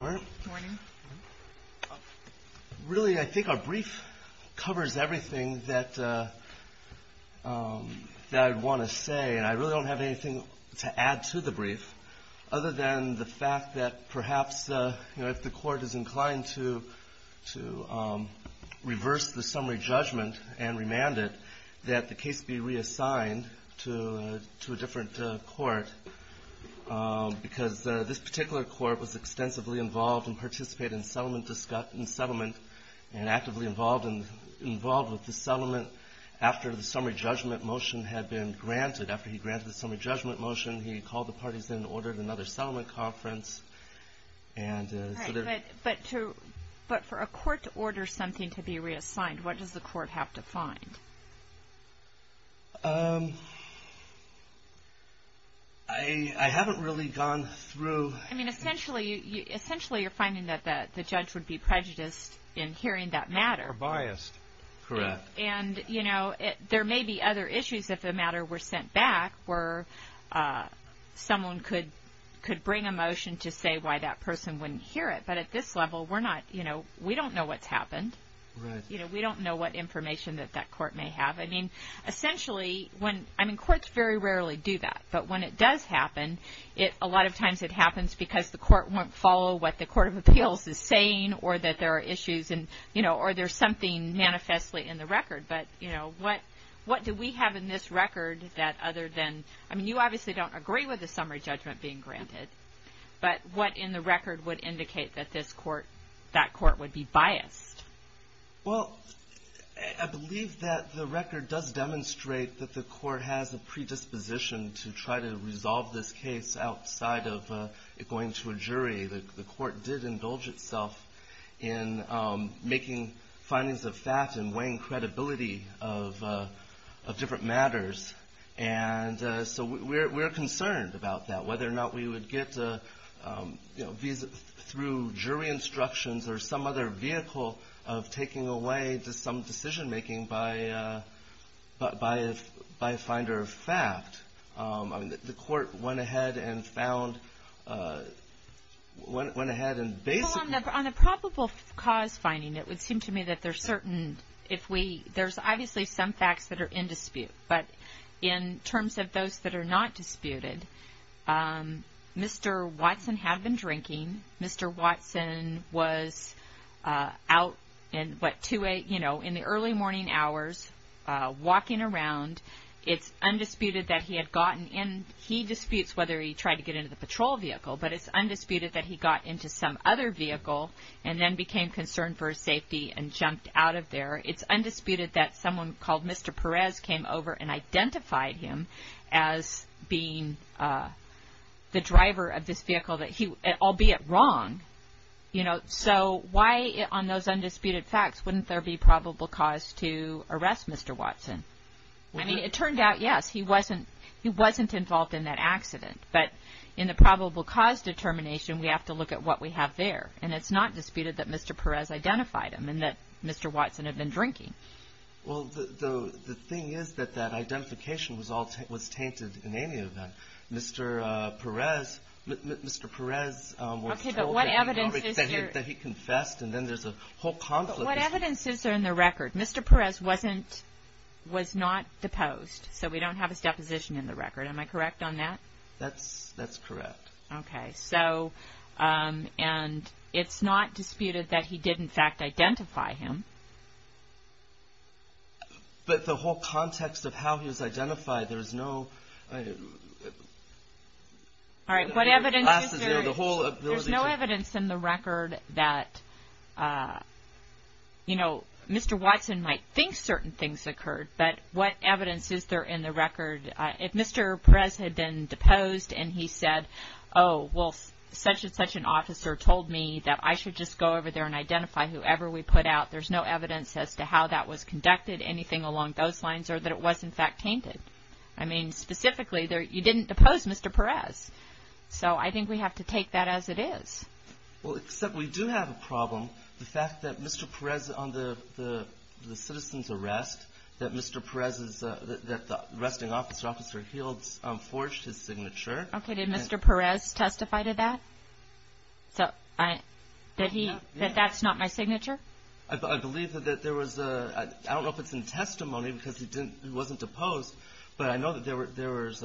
morning. Really, I think our brief covers everything that I want to say, and I really don't have anything to add to the brief, other than the fact that perhaps, you know, if the court is inclined to reverse the summary judgment and remand it, that the case be reassigned to a different court, because this particular court was extensively involved in participating in settlement and actively involved with the settlement after the summary judgment motion had been granted. After he granted the summary judgment motion, he called the parties in and ordered another settlement conference. But for a court to order something to be reassigned, what does the court have to find? I haven't really gone through... I mean, essentially, you're finding that the judge would be prejudiced in hearing that matter. Or biased. Correct. And, you know, there may be other issues if the matter were sent back, where someone could bring a motion to say why that person wouldn't hear it. But at this level, we're not, you know, we don't know what's happened. Right. You know, we don't know what information that that court may have. I mean, essentially, when... I mean, courts very rarely do that. But when it does happen, a lot of times it happens because the court won't follow what the court of appeals is saying or that there are issues and, you know, or there's something manifestly in the record. But, you know, what do we have in this record that other than... I mean, you obviously don't agree with the summary judgment being granted. But what in the record would indicate that this court, that court would be biased? Well, I believe that the record does demonstrate that the court has a predisposition to try to resolve this case outside of it going to a jury. The court did indulge itself in making findings of fact and weighing credibility of different matters. And so we're concerned about that, whether or not we would get, you know, through jury instructions or some other vehicle of taking away to some decision-making by a finder of fact. I mean, the court went ahead and found... went ahead and basically... Well, on the probable cause finding, it would seem to me that there's certain... There's obviously some facts that are in dispute. But in terms of those that are not disputed, Mr. Watson had been drinking. Mr. Watson was out in, what, 2-8, you know, in the early morning hours, walking around. It's undisputed that he had gotten in... He disputes whether he tried to get into the patrol vehicle, but it's undisputed that he got into some other vehicle and then became concerned for his safety and jumped out of there. It's undisputed that someone called Mr. Perez came over and identified him as being the driver of this vehicle that he... albeit wrong, you know. So why, on those undisputed facts, wouldn't there be probable cause to arrest Mr. Watson? I mean, it turned out, yes, he wasn't involved in that accident. But in the probable cause determination, we have to look at what we have there. And it's not disputed that Mr. Perez identified him and that Mr. Watson had been drinking. Well, the thing is that that identification was tainted in any event. Mr. Perez was told that he confessed, and then there's a whole conflict. But what evidence is there in the record? Mr. Perez was not deposed, so we don't have his deposition in the record. Am I correct on that? That's correct. Okay. So, and it's not disputed that he did, in fact, identify him. But the whole context of how he was identified, there's no... All right, what evidence is there? There's no evidence in the record that, you know, Mr. Watson might think certain things occurred, but what evidence is there in the record? If Mr. Perez had been deposed and he said, oh, well, such and such an officer told me that I should just go over there and identify whoever we put out, there's no evidence as to how that was conducted, anything along those lines, or that it was, in fact, tainted. I mean, specifically, you didn't depose Mr. Perez. So I think we have to take that as it is. Well, except we do have a problem, the fact that Mr. Perez, on the citizen's arrest, that Mr. Perez's arresting officer forged his signature. Okay. Did Mr. Perez testify to that, that that's not my signature? I believe that there was a, I don't know if it's in testimony because he wasn't deposed, but I know that there was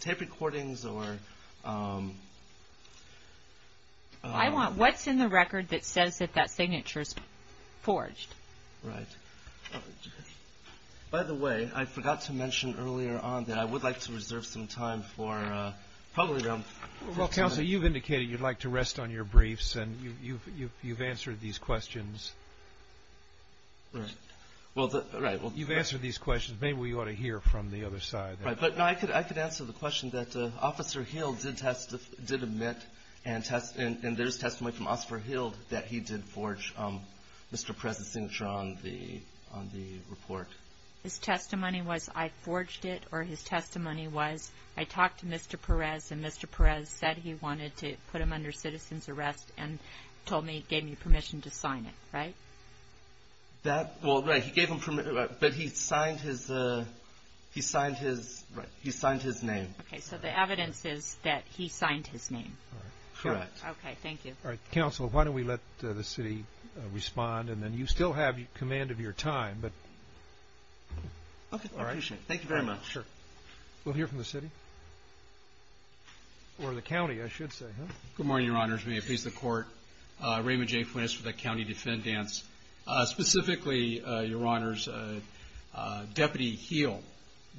tape recordings or... I want what's in the record that says that that signature's forged. Right. By the way, I forgot to mention earlier on that I would like to reserve some time for probably... Well, Counselor, you've indicated you'd like to rest on your briefs, and you've answered these questions. Right. Well, right. You've answered these questions. Maybe we ought to hear from the other side. Right. But, no, I could answer the question that Officer Hill did admit, and there's testimony from Officer Hill that he did forge Mr. Perez's signature on the report. His testimony was I forged it, or his testimony was I talked to Mr. Perez and Mr. Perez said he wanted to put him under citizen's arrest and told me, gave me permission to sign it, right? That, well, right, he gave him permission, but he signed his, he signed his, right, he signed his name. Okay. So the evidence is that he signed his name. Correct. Okay. Thank you. All right. Counsel, why don't we let the city respond, and then you still have command of your time, but... Okay. All right. I appreciate it. Thank you very much. Sure. We'll hear from the city, or the county, I should say, huh? Good morning, Your Honors. May it please the Court. Raymond J. Fuentes for the County Defendants. Specifically, Your Honors, Deputy Heal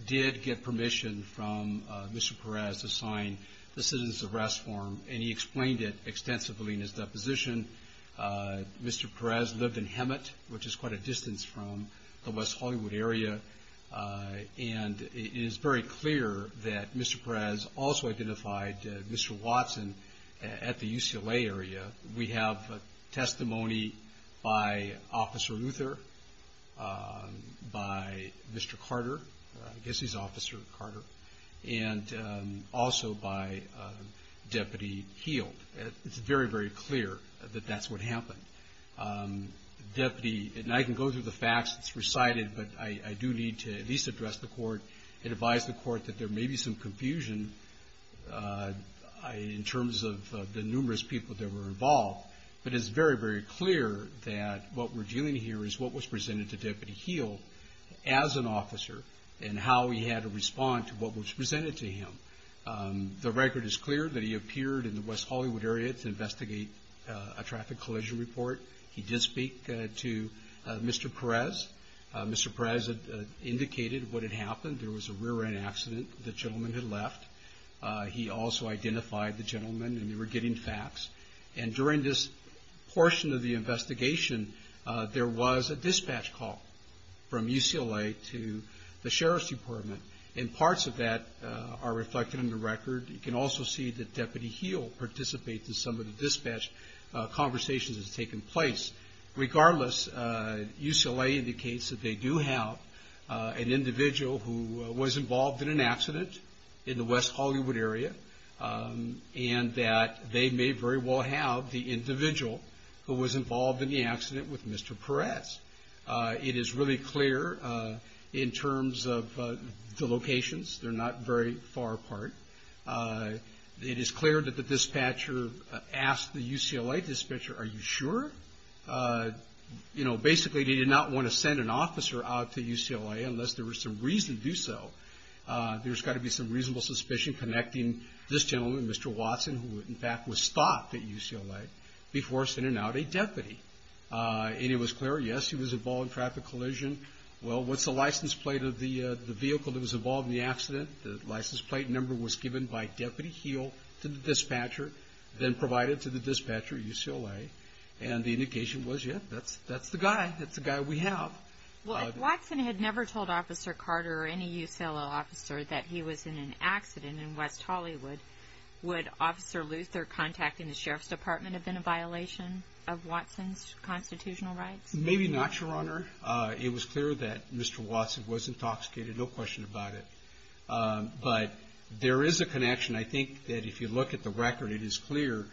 did get permission from Mr. Perez to sign the citizen's arrest form, and he explained it extensively in his deposition. Mr. Perez lived in Hemet, which is quite a distance from the West Hollywood area, and it is very clear that Mr. Perez also identified Mr. Watson at the UCLA area. We have testimony by Officer Luther, by Mr. Carter, I guess he's Officer Carter, and also by Deputy Heal. It's very, very clear that that's what happened. Deputy, and I can go through the facts, it's recited, but I do need to at least address the court and advise the court that there may be some confusion in terms of the numerous people that were involved, but it's very, very clear that what we're dealing here is what was presented to Deputy Heal as an officer and how he had to respond to what was presented to him. The record is clear that he appeared in the West Hollywood area to investigate a traffic collision report. He did speak to Mr. Perez. Mr. Perez indicated what had happened. There was a rear-end accident. The gentleman had left. He also identified the gentleman, and they were getting facts. And during this portion of the investigation, there was a dispatch call from UCLA to the Sheriff's Department, and parts of that are reflected in the record. You can also see that Deputy Heal participates in some of the dispatch conversations that have taken place. Regardless, UCLA indicates that they do have an individual who was involved in an accident in the West Hollywood area and that they may very well have the individual who was involved in the accident with Mr. Perez. It is really clear in terms of the locations. They're not very far apart. It is clear that the dispatcher asked the UCLA dispatcher, Are you sure? Basically, he did not want to send an officer out to UCLA unless there was some reason to do so. There's got to be some reasonable suspicion connecting this gentleman with Mr. Watson, who, in fact, was stopped at UCLA before sending out a deputy. And it was clear, yes, he was involved in a traffic collision. Well, what's the license plate of the vehicle that was involved in the accident? The license plate number was given by Deputy Heal to the dispatcher, then provided to the dispatcher at UCLA, and the indication was, yes, that's the guy. That's the guy we have. Well, if Watson had never told Officer Carter or any UCLA officer that he was in an accident in West Hollywood, would Officer Luther contacting the Sheriff's Department have been a violation of Watson's constitutional rights? Maybe not, Your Honor. It was clear that Mr. Watson was intoxicated, no question about it. But there is a connection. I think that if you look at the record, it is clear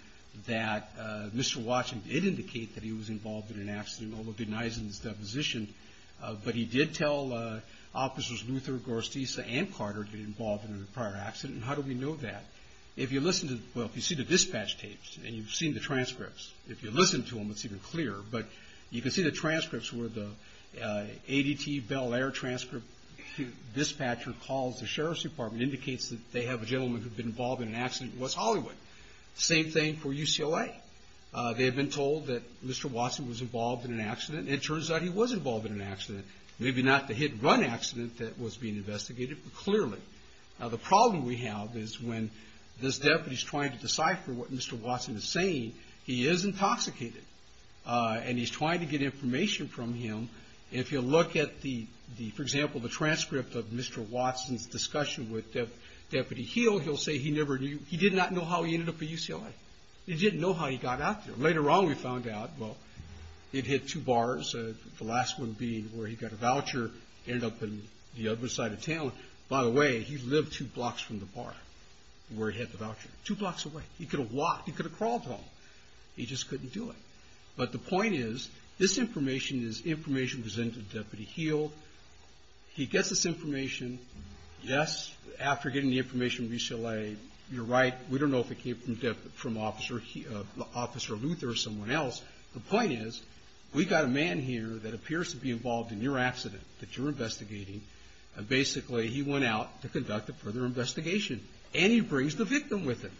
that Mr. Watson did indicate that he was involved in an accident, although denies in his deposition. But he did tell Officers Luther, Gorastiza, and Carter to get involved in a prior accident. And how do we know that? If you listen to the – well, if you see the dispatch tapes and you've seen the transcripts, if you listen to them, it's even clearer. But you can see the transcripts where the ADT Bel Air transcript dispatcher calls the Sheriff's Department, indicates that they have a gentleman who'd been involved in an accident in West Hollywood. Same thing for UCLA. They had been told that Mr. Watson was involved in an accident, and it turns out he was involved in an accident. Maybe not the hit-and-run accident that was being investigated, but clearly. Now, the problem we have is when this deputy is trying to decipher what Mr. Watson is saying, he is intoxicated, and he's trying to get information from him. If you look at the – for example, the transcript of Mr. Watson's discussion with Deputy Heal, he'll say he never knew – he did not know how he ended up at UCLA. He didn't know how he got out there. Later on, we found out, well, it hit two bars, the last one being where he got a voucher, ended up in the other side of town. By the way, he lived two blocks from the bar where he had the voucher. Two blocks away. He could have walked. He could have crawled home. He just couldn't do it. But the point is, this information is information presented to Deputy Heal. He gets this information. Yes, after getting the information from UCLA, you're right. We don't know if it came from Officer Luther or someone else. The point is, we've got a man here that appears to be involved in your accident that you're investigating, and basically he went out to conduct a further investigation. And he brings the victim with him.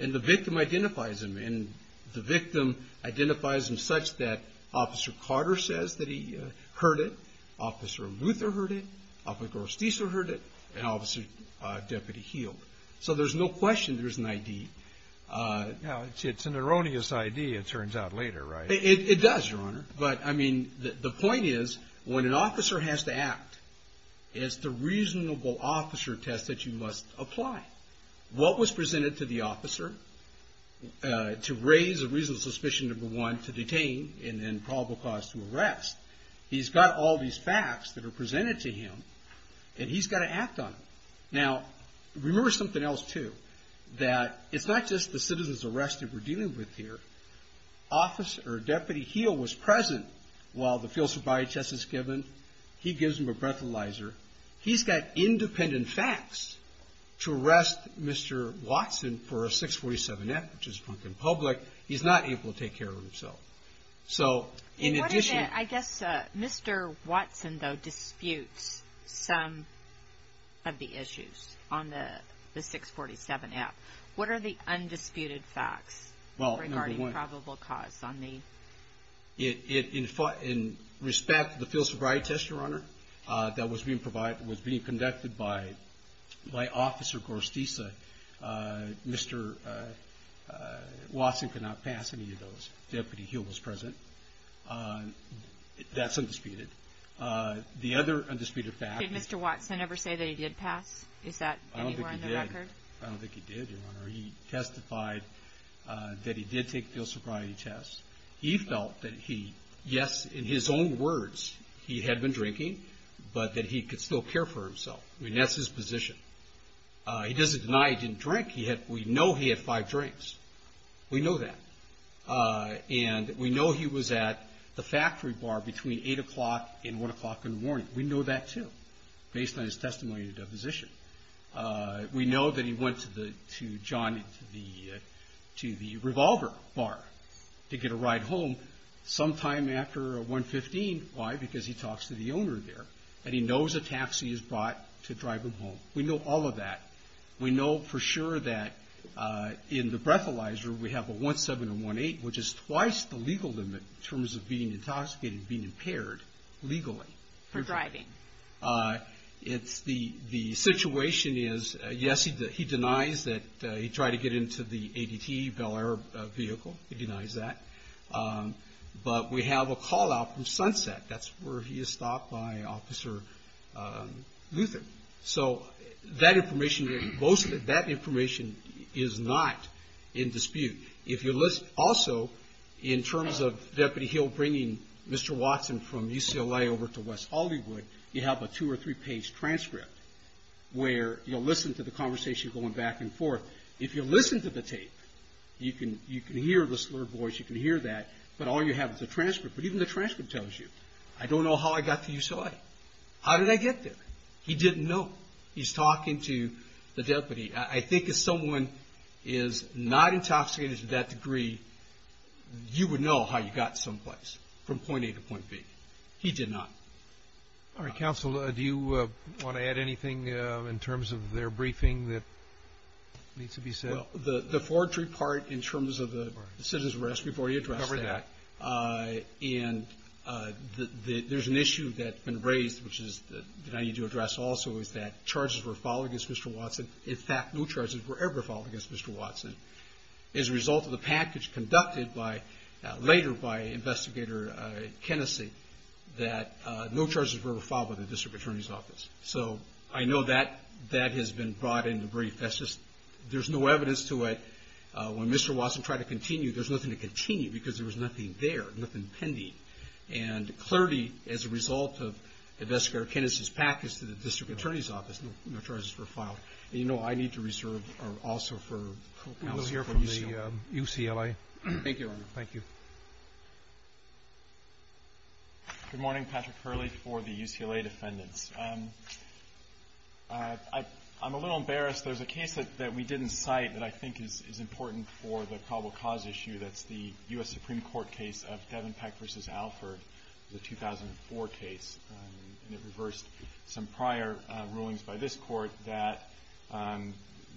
And the victim identifies him. And the victim identifies him such that Officer Carter says that he heard it. Officer Luther heard it. Officer Osteaser heard it. And Officer Deputy Heal. So there's no question there's an ID. Now, it's an erroneous ID, it turns out, later, right? It does, Your Honor. But, I mean, the point is, when an officer has to act, it's the reasonable officer test that you must apply. What was presented to the officer to raise a reasonable suspicion, number one, to detain, and then probable cause to arrest. He's got all these facts that are presented to him, and he's got to act on them. Now, remember something else, too, that it's not just the citizen's arrest that we're dealing with here. Officer Deputy Heal was present while the field sobriety test was given. He gives him a breathalyzer. He's got independent facts to arrest Mr. Watson for a 647F, which is front and public. He's not able to take care of himself. So, in addition to that, I guess Mr. Watson, though, disputes some of the issues on the 647F. What are the undisputed facts regarding probable cause on the? In respect to the field sobriety test, Your Honor, that was being conducted by Officer Gorstiza, Mr. Watson could not pass any of those. Deputy Heal was present. That's undisputed. The other undisputed fact. Did Mr. Watson ever say that he did pass? Is that anywhere in the record? I don't think he did, Your Honor. He testified that he did take field sobriety tests. He felt that he, yes, in his own words, he had been drinking, but that he could still care for himself. I mean, that's his position. He doesn't deny he didn't drink. We know he had five drinks. We know that. And we know he was at the factory bar between 8 o'clock and 1 o'clock in the morning. We know that, too, based on his testimony to the deposition. We know that he went to the revolver bar to get a ride home sometime after 1.15. Why? Because he talks to the owner there. And he knows a taxi is brought to drive him home. We know all of that. We know for sure that in the breathalyzer we have a 1.7 and 1.8, which is twice the legal limit in terms of being intoxicated and being impaired legally. For driving. The situation is, yes, he denies that he tried to get into the ADT, Bel Air vehicle. He denies that. But we have a call out from Sunset. That's where he is stopped by Officer Luther. So that information, most of that information is not in dispute. Also, in terms of Deputy Hill bringing Mr. Watson from UCLA over to West Hollywood, you have a two- or three-page transcript where you'll listen to the conversation going back and forth. If you listen to the tape, you can hear the slurred voice. You can hear that. But all you have is a transcript. But even the transcript tells you, I don't know how I got to UCLA. How did I get there? He didn't know. He's talking to the deputy. I think if someone is not intoxicated to that degree, you would know how you got someplace from point A to point B. He did not. All right, Counsel, do you want to add anything in terms of their briefing that needs to be said? Well, the forgery part in terms of the citizen's arrest before you address that. I covered that. And there's an issue that's been raised, which I need to address also, is that charges were filed against Mr. Watson. In fact, no charges were ever filed against Mr. Watson. As a result of the package conducted later by Investigator Kennessy, that no charges were ever filed by the District Attorney's Office. So I know that has been brought into brief. There's no evidence to it. When Mr. Watson tried to continue, there's nothing to continue because there was nothing there, nothing pending. And clearly, as a result of Investigator Kennessy's package to the District Attorney's Office, no charges were filed. And you know I need to reserve also for counsel from UCLA. We will hear from the UCLA. Thank you. Thank you. Good morning. Patrick Hurley for the UCLA defendants. I'm a little embarrassed. There's a case that we didn't cite that I think is important for the probable cause issue. That's the U.S. Supreme Court case of Devenpeck v. Alford, the 2004 case. And it reversed some prior rulings by this Court that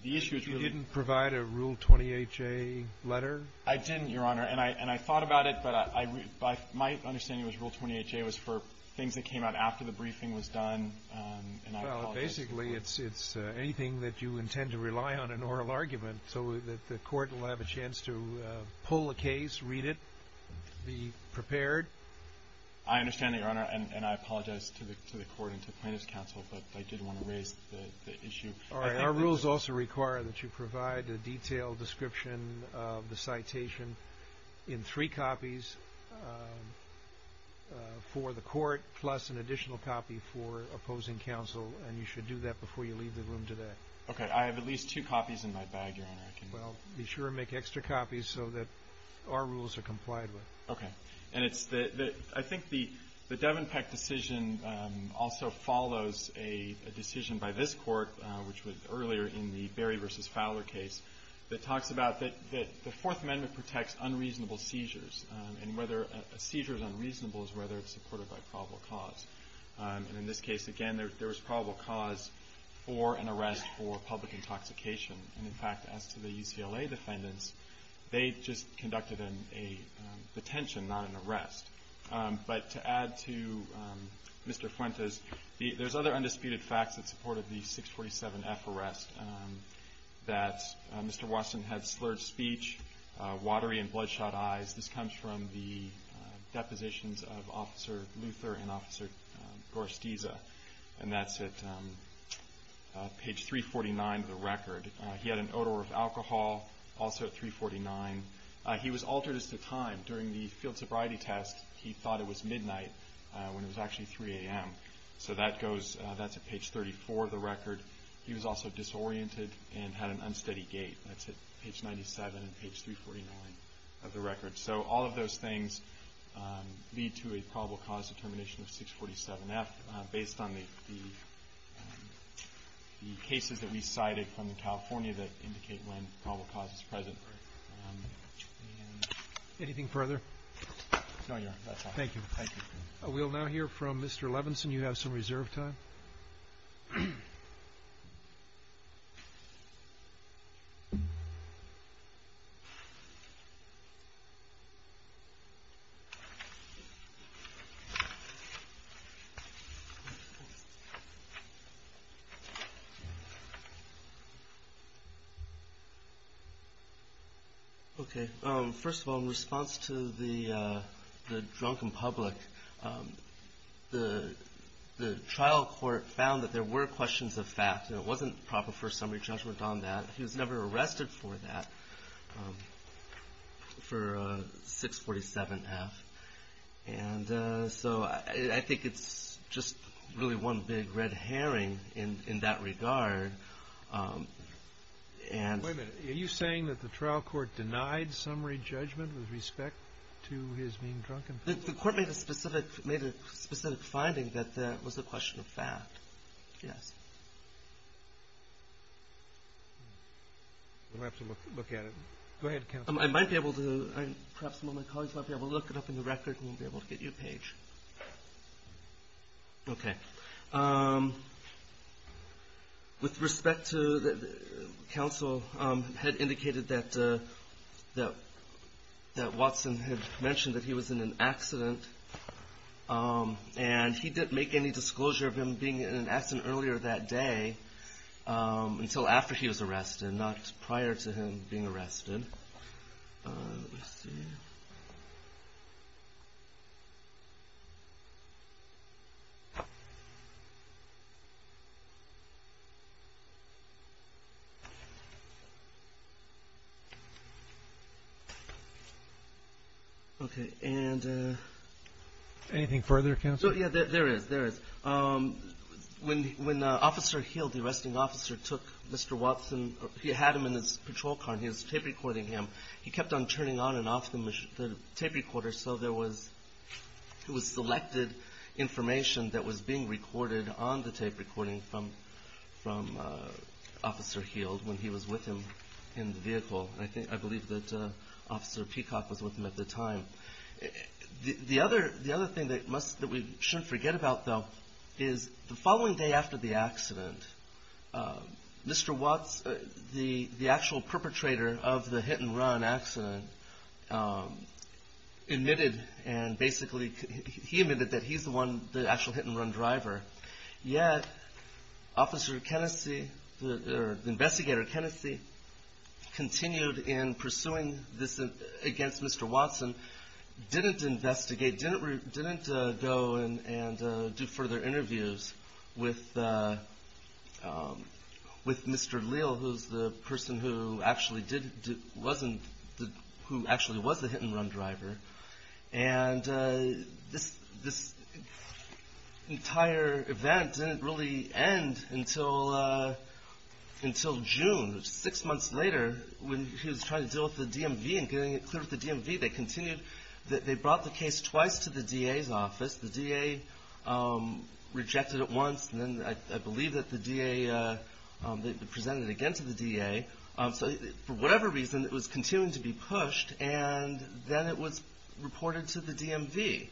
the issue is really ---- You didn't provide a Rule 20HA letter? I didn't, Your Honor. And I thought about it, but my understanding was Rule 20HA was for things that came out after the briefing was done, and I apologize for that. Well, basically it's anything that you intend to rely on in oral argument so that the people of the case read it, be prepared. I understand that, Your Honor, and I apologize to the Court and to plaintiff's counsel, but I did want to raise the issue. All right, our rules also require that you provide a detailed description of the citation in three copies for the Court plus an additional copy for opposing counsel, and you should do that before you leave the room today. Well, be sure to make extra copies so that our rules are complied with. Okay. And it's the ---- I think the Devenpeck decision also follows a decision by this Court, which was earlier in the Berry v. Fowler case, that talks about that the Fourth Amendment protects unreasonable seizures, and whether a seizure is unreasonable is whether it's supported by probable cause. And in this case, again, there was probable cause for an arrest for public intoxication. And, in fact, as to the UCLA defendants, they just conducted a detention, not an arrest. But to add to Mr. Fuentes, there's other undisputed facts that supported the 647F arrest, that Mr. Watson had slurred speech, watery and bloodshot eyes. This comes from the depositions of Officer Luther and Officer Gorstiza, and that's at page 349 of the record. He had an odor of alcohol, also at 349. He was altered as to time. During the field sobriety test, he thought it was midnight when it was actually 3 a.m. So that goes, that's at page 34 of the record. He was also disoriented and had an unsteady gait. That's at page 97 and page 349 of the record. So all of those things lead to a probable cause determination of 647F, based on the cases that we cited from California that indicate when probable cause is present. Anything further? No, Your Honor. That's all. Thank you. Thank you. We'll now hear from Mr. Levinson. You have some reserve time. Okay. First of all, in response to the drunken public, the trial court found that there were questions of fact, and it wasn't proper for a summary judgment on that. He was never arrested for that, for 647F. And so I think it's just really one big red herring in that regard. Wait a minute. Are you saying that the trial court denied summary judgment with respect to his being drunken? The court made a specific finding that that was a question of fact. Yes. We'll have to look at it. Go ahead, counsel. I might be able to, perhaps some of my colleagues might be able to look it up in the record, and we'll be able to get you a page. Okay. With respect to counsel had indicated that Watson had mentioned that he was in an accident, and he didn't make any disclosure of him being in an accident earlier that day until after he was arrested, not prior to him being arrested. Let me see. Okay. And anything further, counsel? Yeah, there is. There is. When Officer Hill, the arresting officer, took Mr. Watson, he had him in his patrol car, and he was tape recording him. He kept on turning on and off the tape recorder, so there was selected information that was being recorded on the tape recording from Officer Hill when he was with him in the vehicle. I believe that Officer Peacock was with him at the time. The other thing that we shouldn't forget about, though, is the following day after the accident, Mr. Watson, the actual perpetrator of the hit-and-run accident, admitted and basically he admitted that he's the one, the actual hit-and-run driver, yet Investigator Kennessy continued in pursuing this against Mr. Watson, didn't investigate, didn't go and do further interviews with Mr. Leal, who was the person who actually was the hit-and-run driver, and this entire event didn't really end until June. Six months later, when he was trying to deal with the DMV and getting it cleared with the DMV, they brought the case twice to the DA's office. The DA rejected it once, and then I believe that the DA presented it again to the DA. So for whatever reason, it was continuing to be pushed, and then it was reported to the DMV,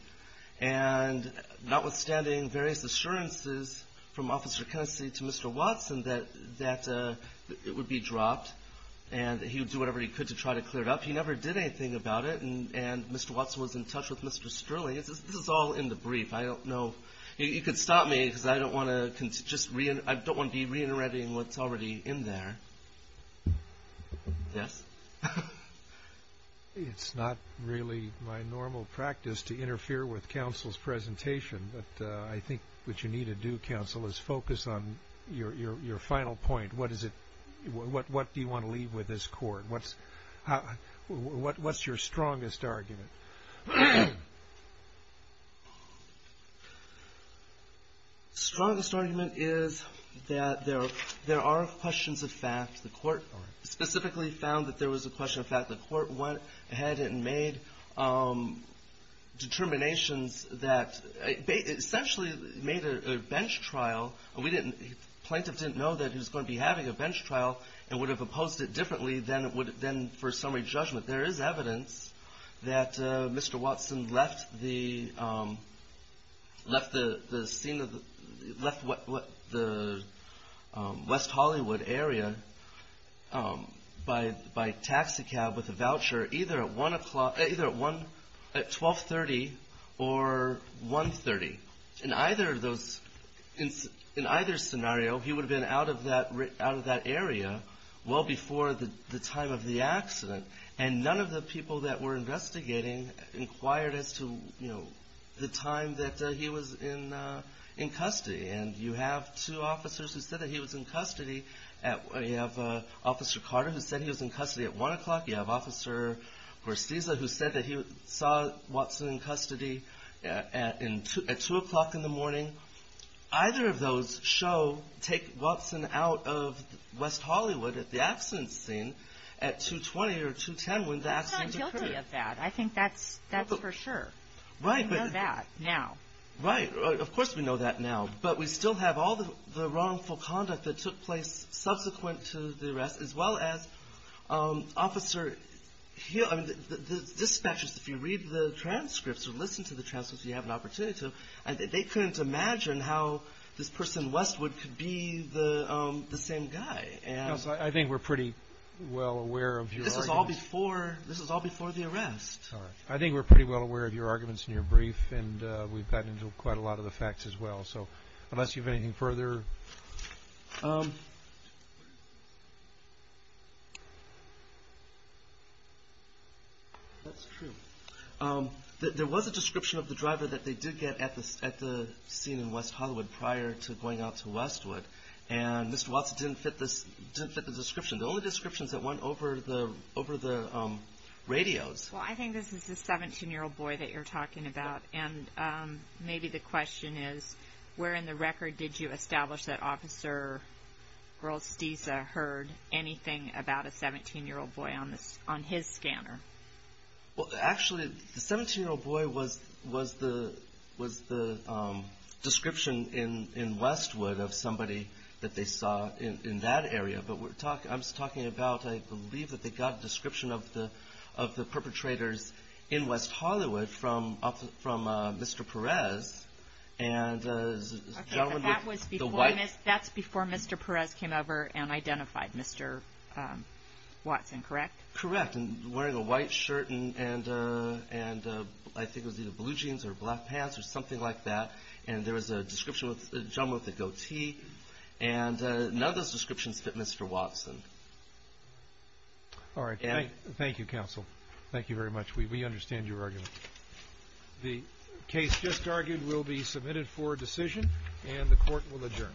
and notwithstanding various assurances from Officer Kennessy to Mr. Watson that it would be dropped and that he would do whatever he could to try to clear it up, he never did anything about it, and Mr. Watson was in touch with Mr. Sterling. This is all in the brief. I don't know. You could stop me because I don't want to be reinterpreting what's already in there. Yes? It's not really my normal practice to interfere with counsel's presentation, but I think what you need to do, counsel, is focus on your final point. What do you want to leave with this court? What's your strongest argument? The strongest argument is that there are questions of fact. The court specifically found that there was a question of fact. The court went ahead and made determinations that essentially made a bench trial. The plaintiff didn't know that he was going to be having a bench trial and would have opposed it differently than for summary judgment. There is evidence that Mr. Watson left the West Hollywood area by taxicab with a voucher either at 12.30 or 1.30. In either scenario, he would have been out of that area well before the time of the accident, and none of the people that were investigating inquired as to the time that he was in custody. You have two officers who said that he was in custody. You have Officer Carter who said he was in custody at 1 o'clock. You have Officer Gorsiza who said that he saw Watson in custody at 2 o'clock in the morning. Either of those show take Watson out of West Hollywood at the accident scene at 2.20 or 2.10 when the accident occurred. I'm not guilty of that. I think that's for sure. Right. We know that now. Right. Of course we know that now. But we still have all the wrongful conduct that took place subsequent to the arrest, as well as Officer Hill. I mean, the dispatchers, if you read the transcripts or listen to the transcripts, you have an opportunity to. They couldn't imagine how this person Westwood could be the same guy. I think we're pretty well aware of your argument. This was all before the arrest. I think we're pretty well aware of your arguments in your brief, and we've gotten into quite a lot of the facts as well. So unless you have anything further. That's true. There was a description of the driver that they did get at the scene in West Hollywood prior to going out to Westwood, and Mr. Watson didn't fit the description. The only description is that it went over the radios. Well, I think this is the 17-year-old boy that you're talking about, and maybe the question is where in the record did you establish that Officer Grolstieser heard anything about a 17-year-old boy on his scanner? Well, actually, the 17-year-old boy was the description in Westwood of somebody that they saw in that area. But I'm just talking about I believe that they got a description of the perpetrators in West Hollywood from Mr. Perez. Okay, but that's before Mr. Perez came over and identified Mr. Watson, correct? Correct. And wearing a white shirt and I think it was either blue jeans or black pants or something like that. And there was a description with a gentleman with a goatee. And none of those descriptions fit Mr. Watson. All right. Thank you, Counsel. Thank you very much. We understand your argument. The case just argued will be submitted for decision, and the Court will adjourn. Thank you.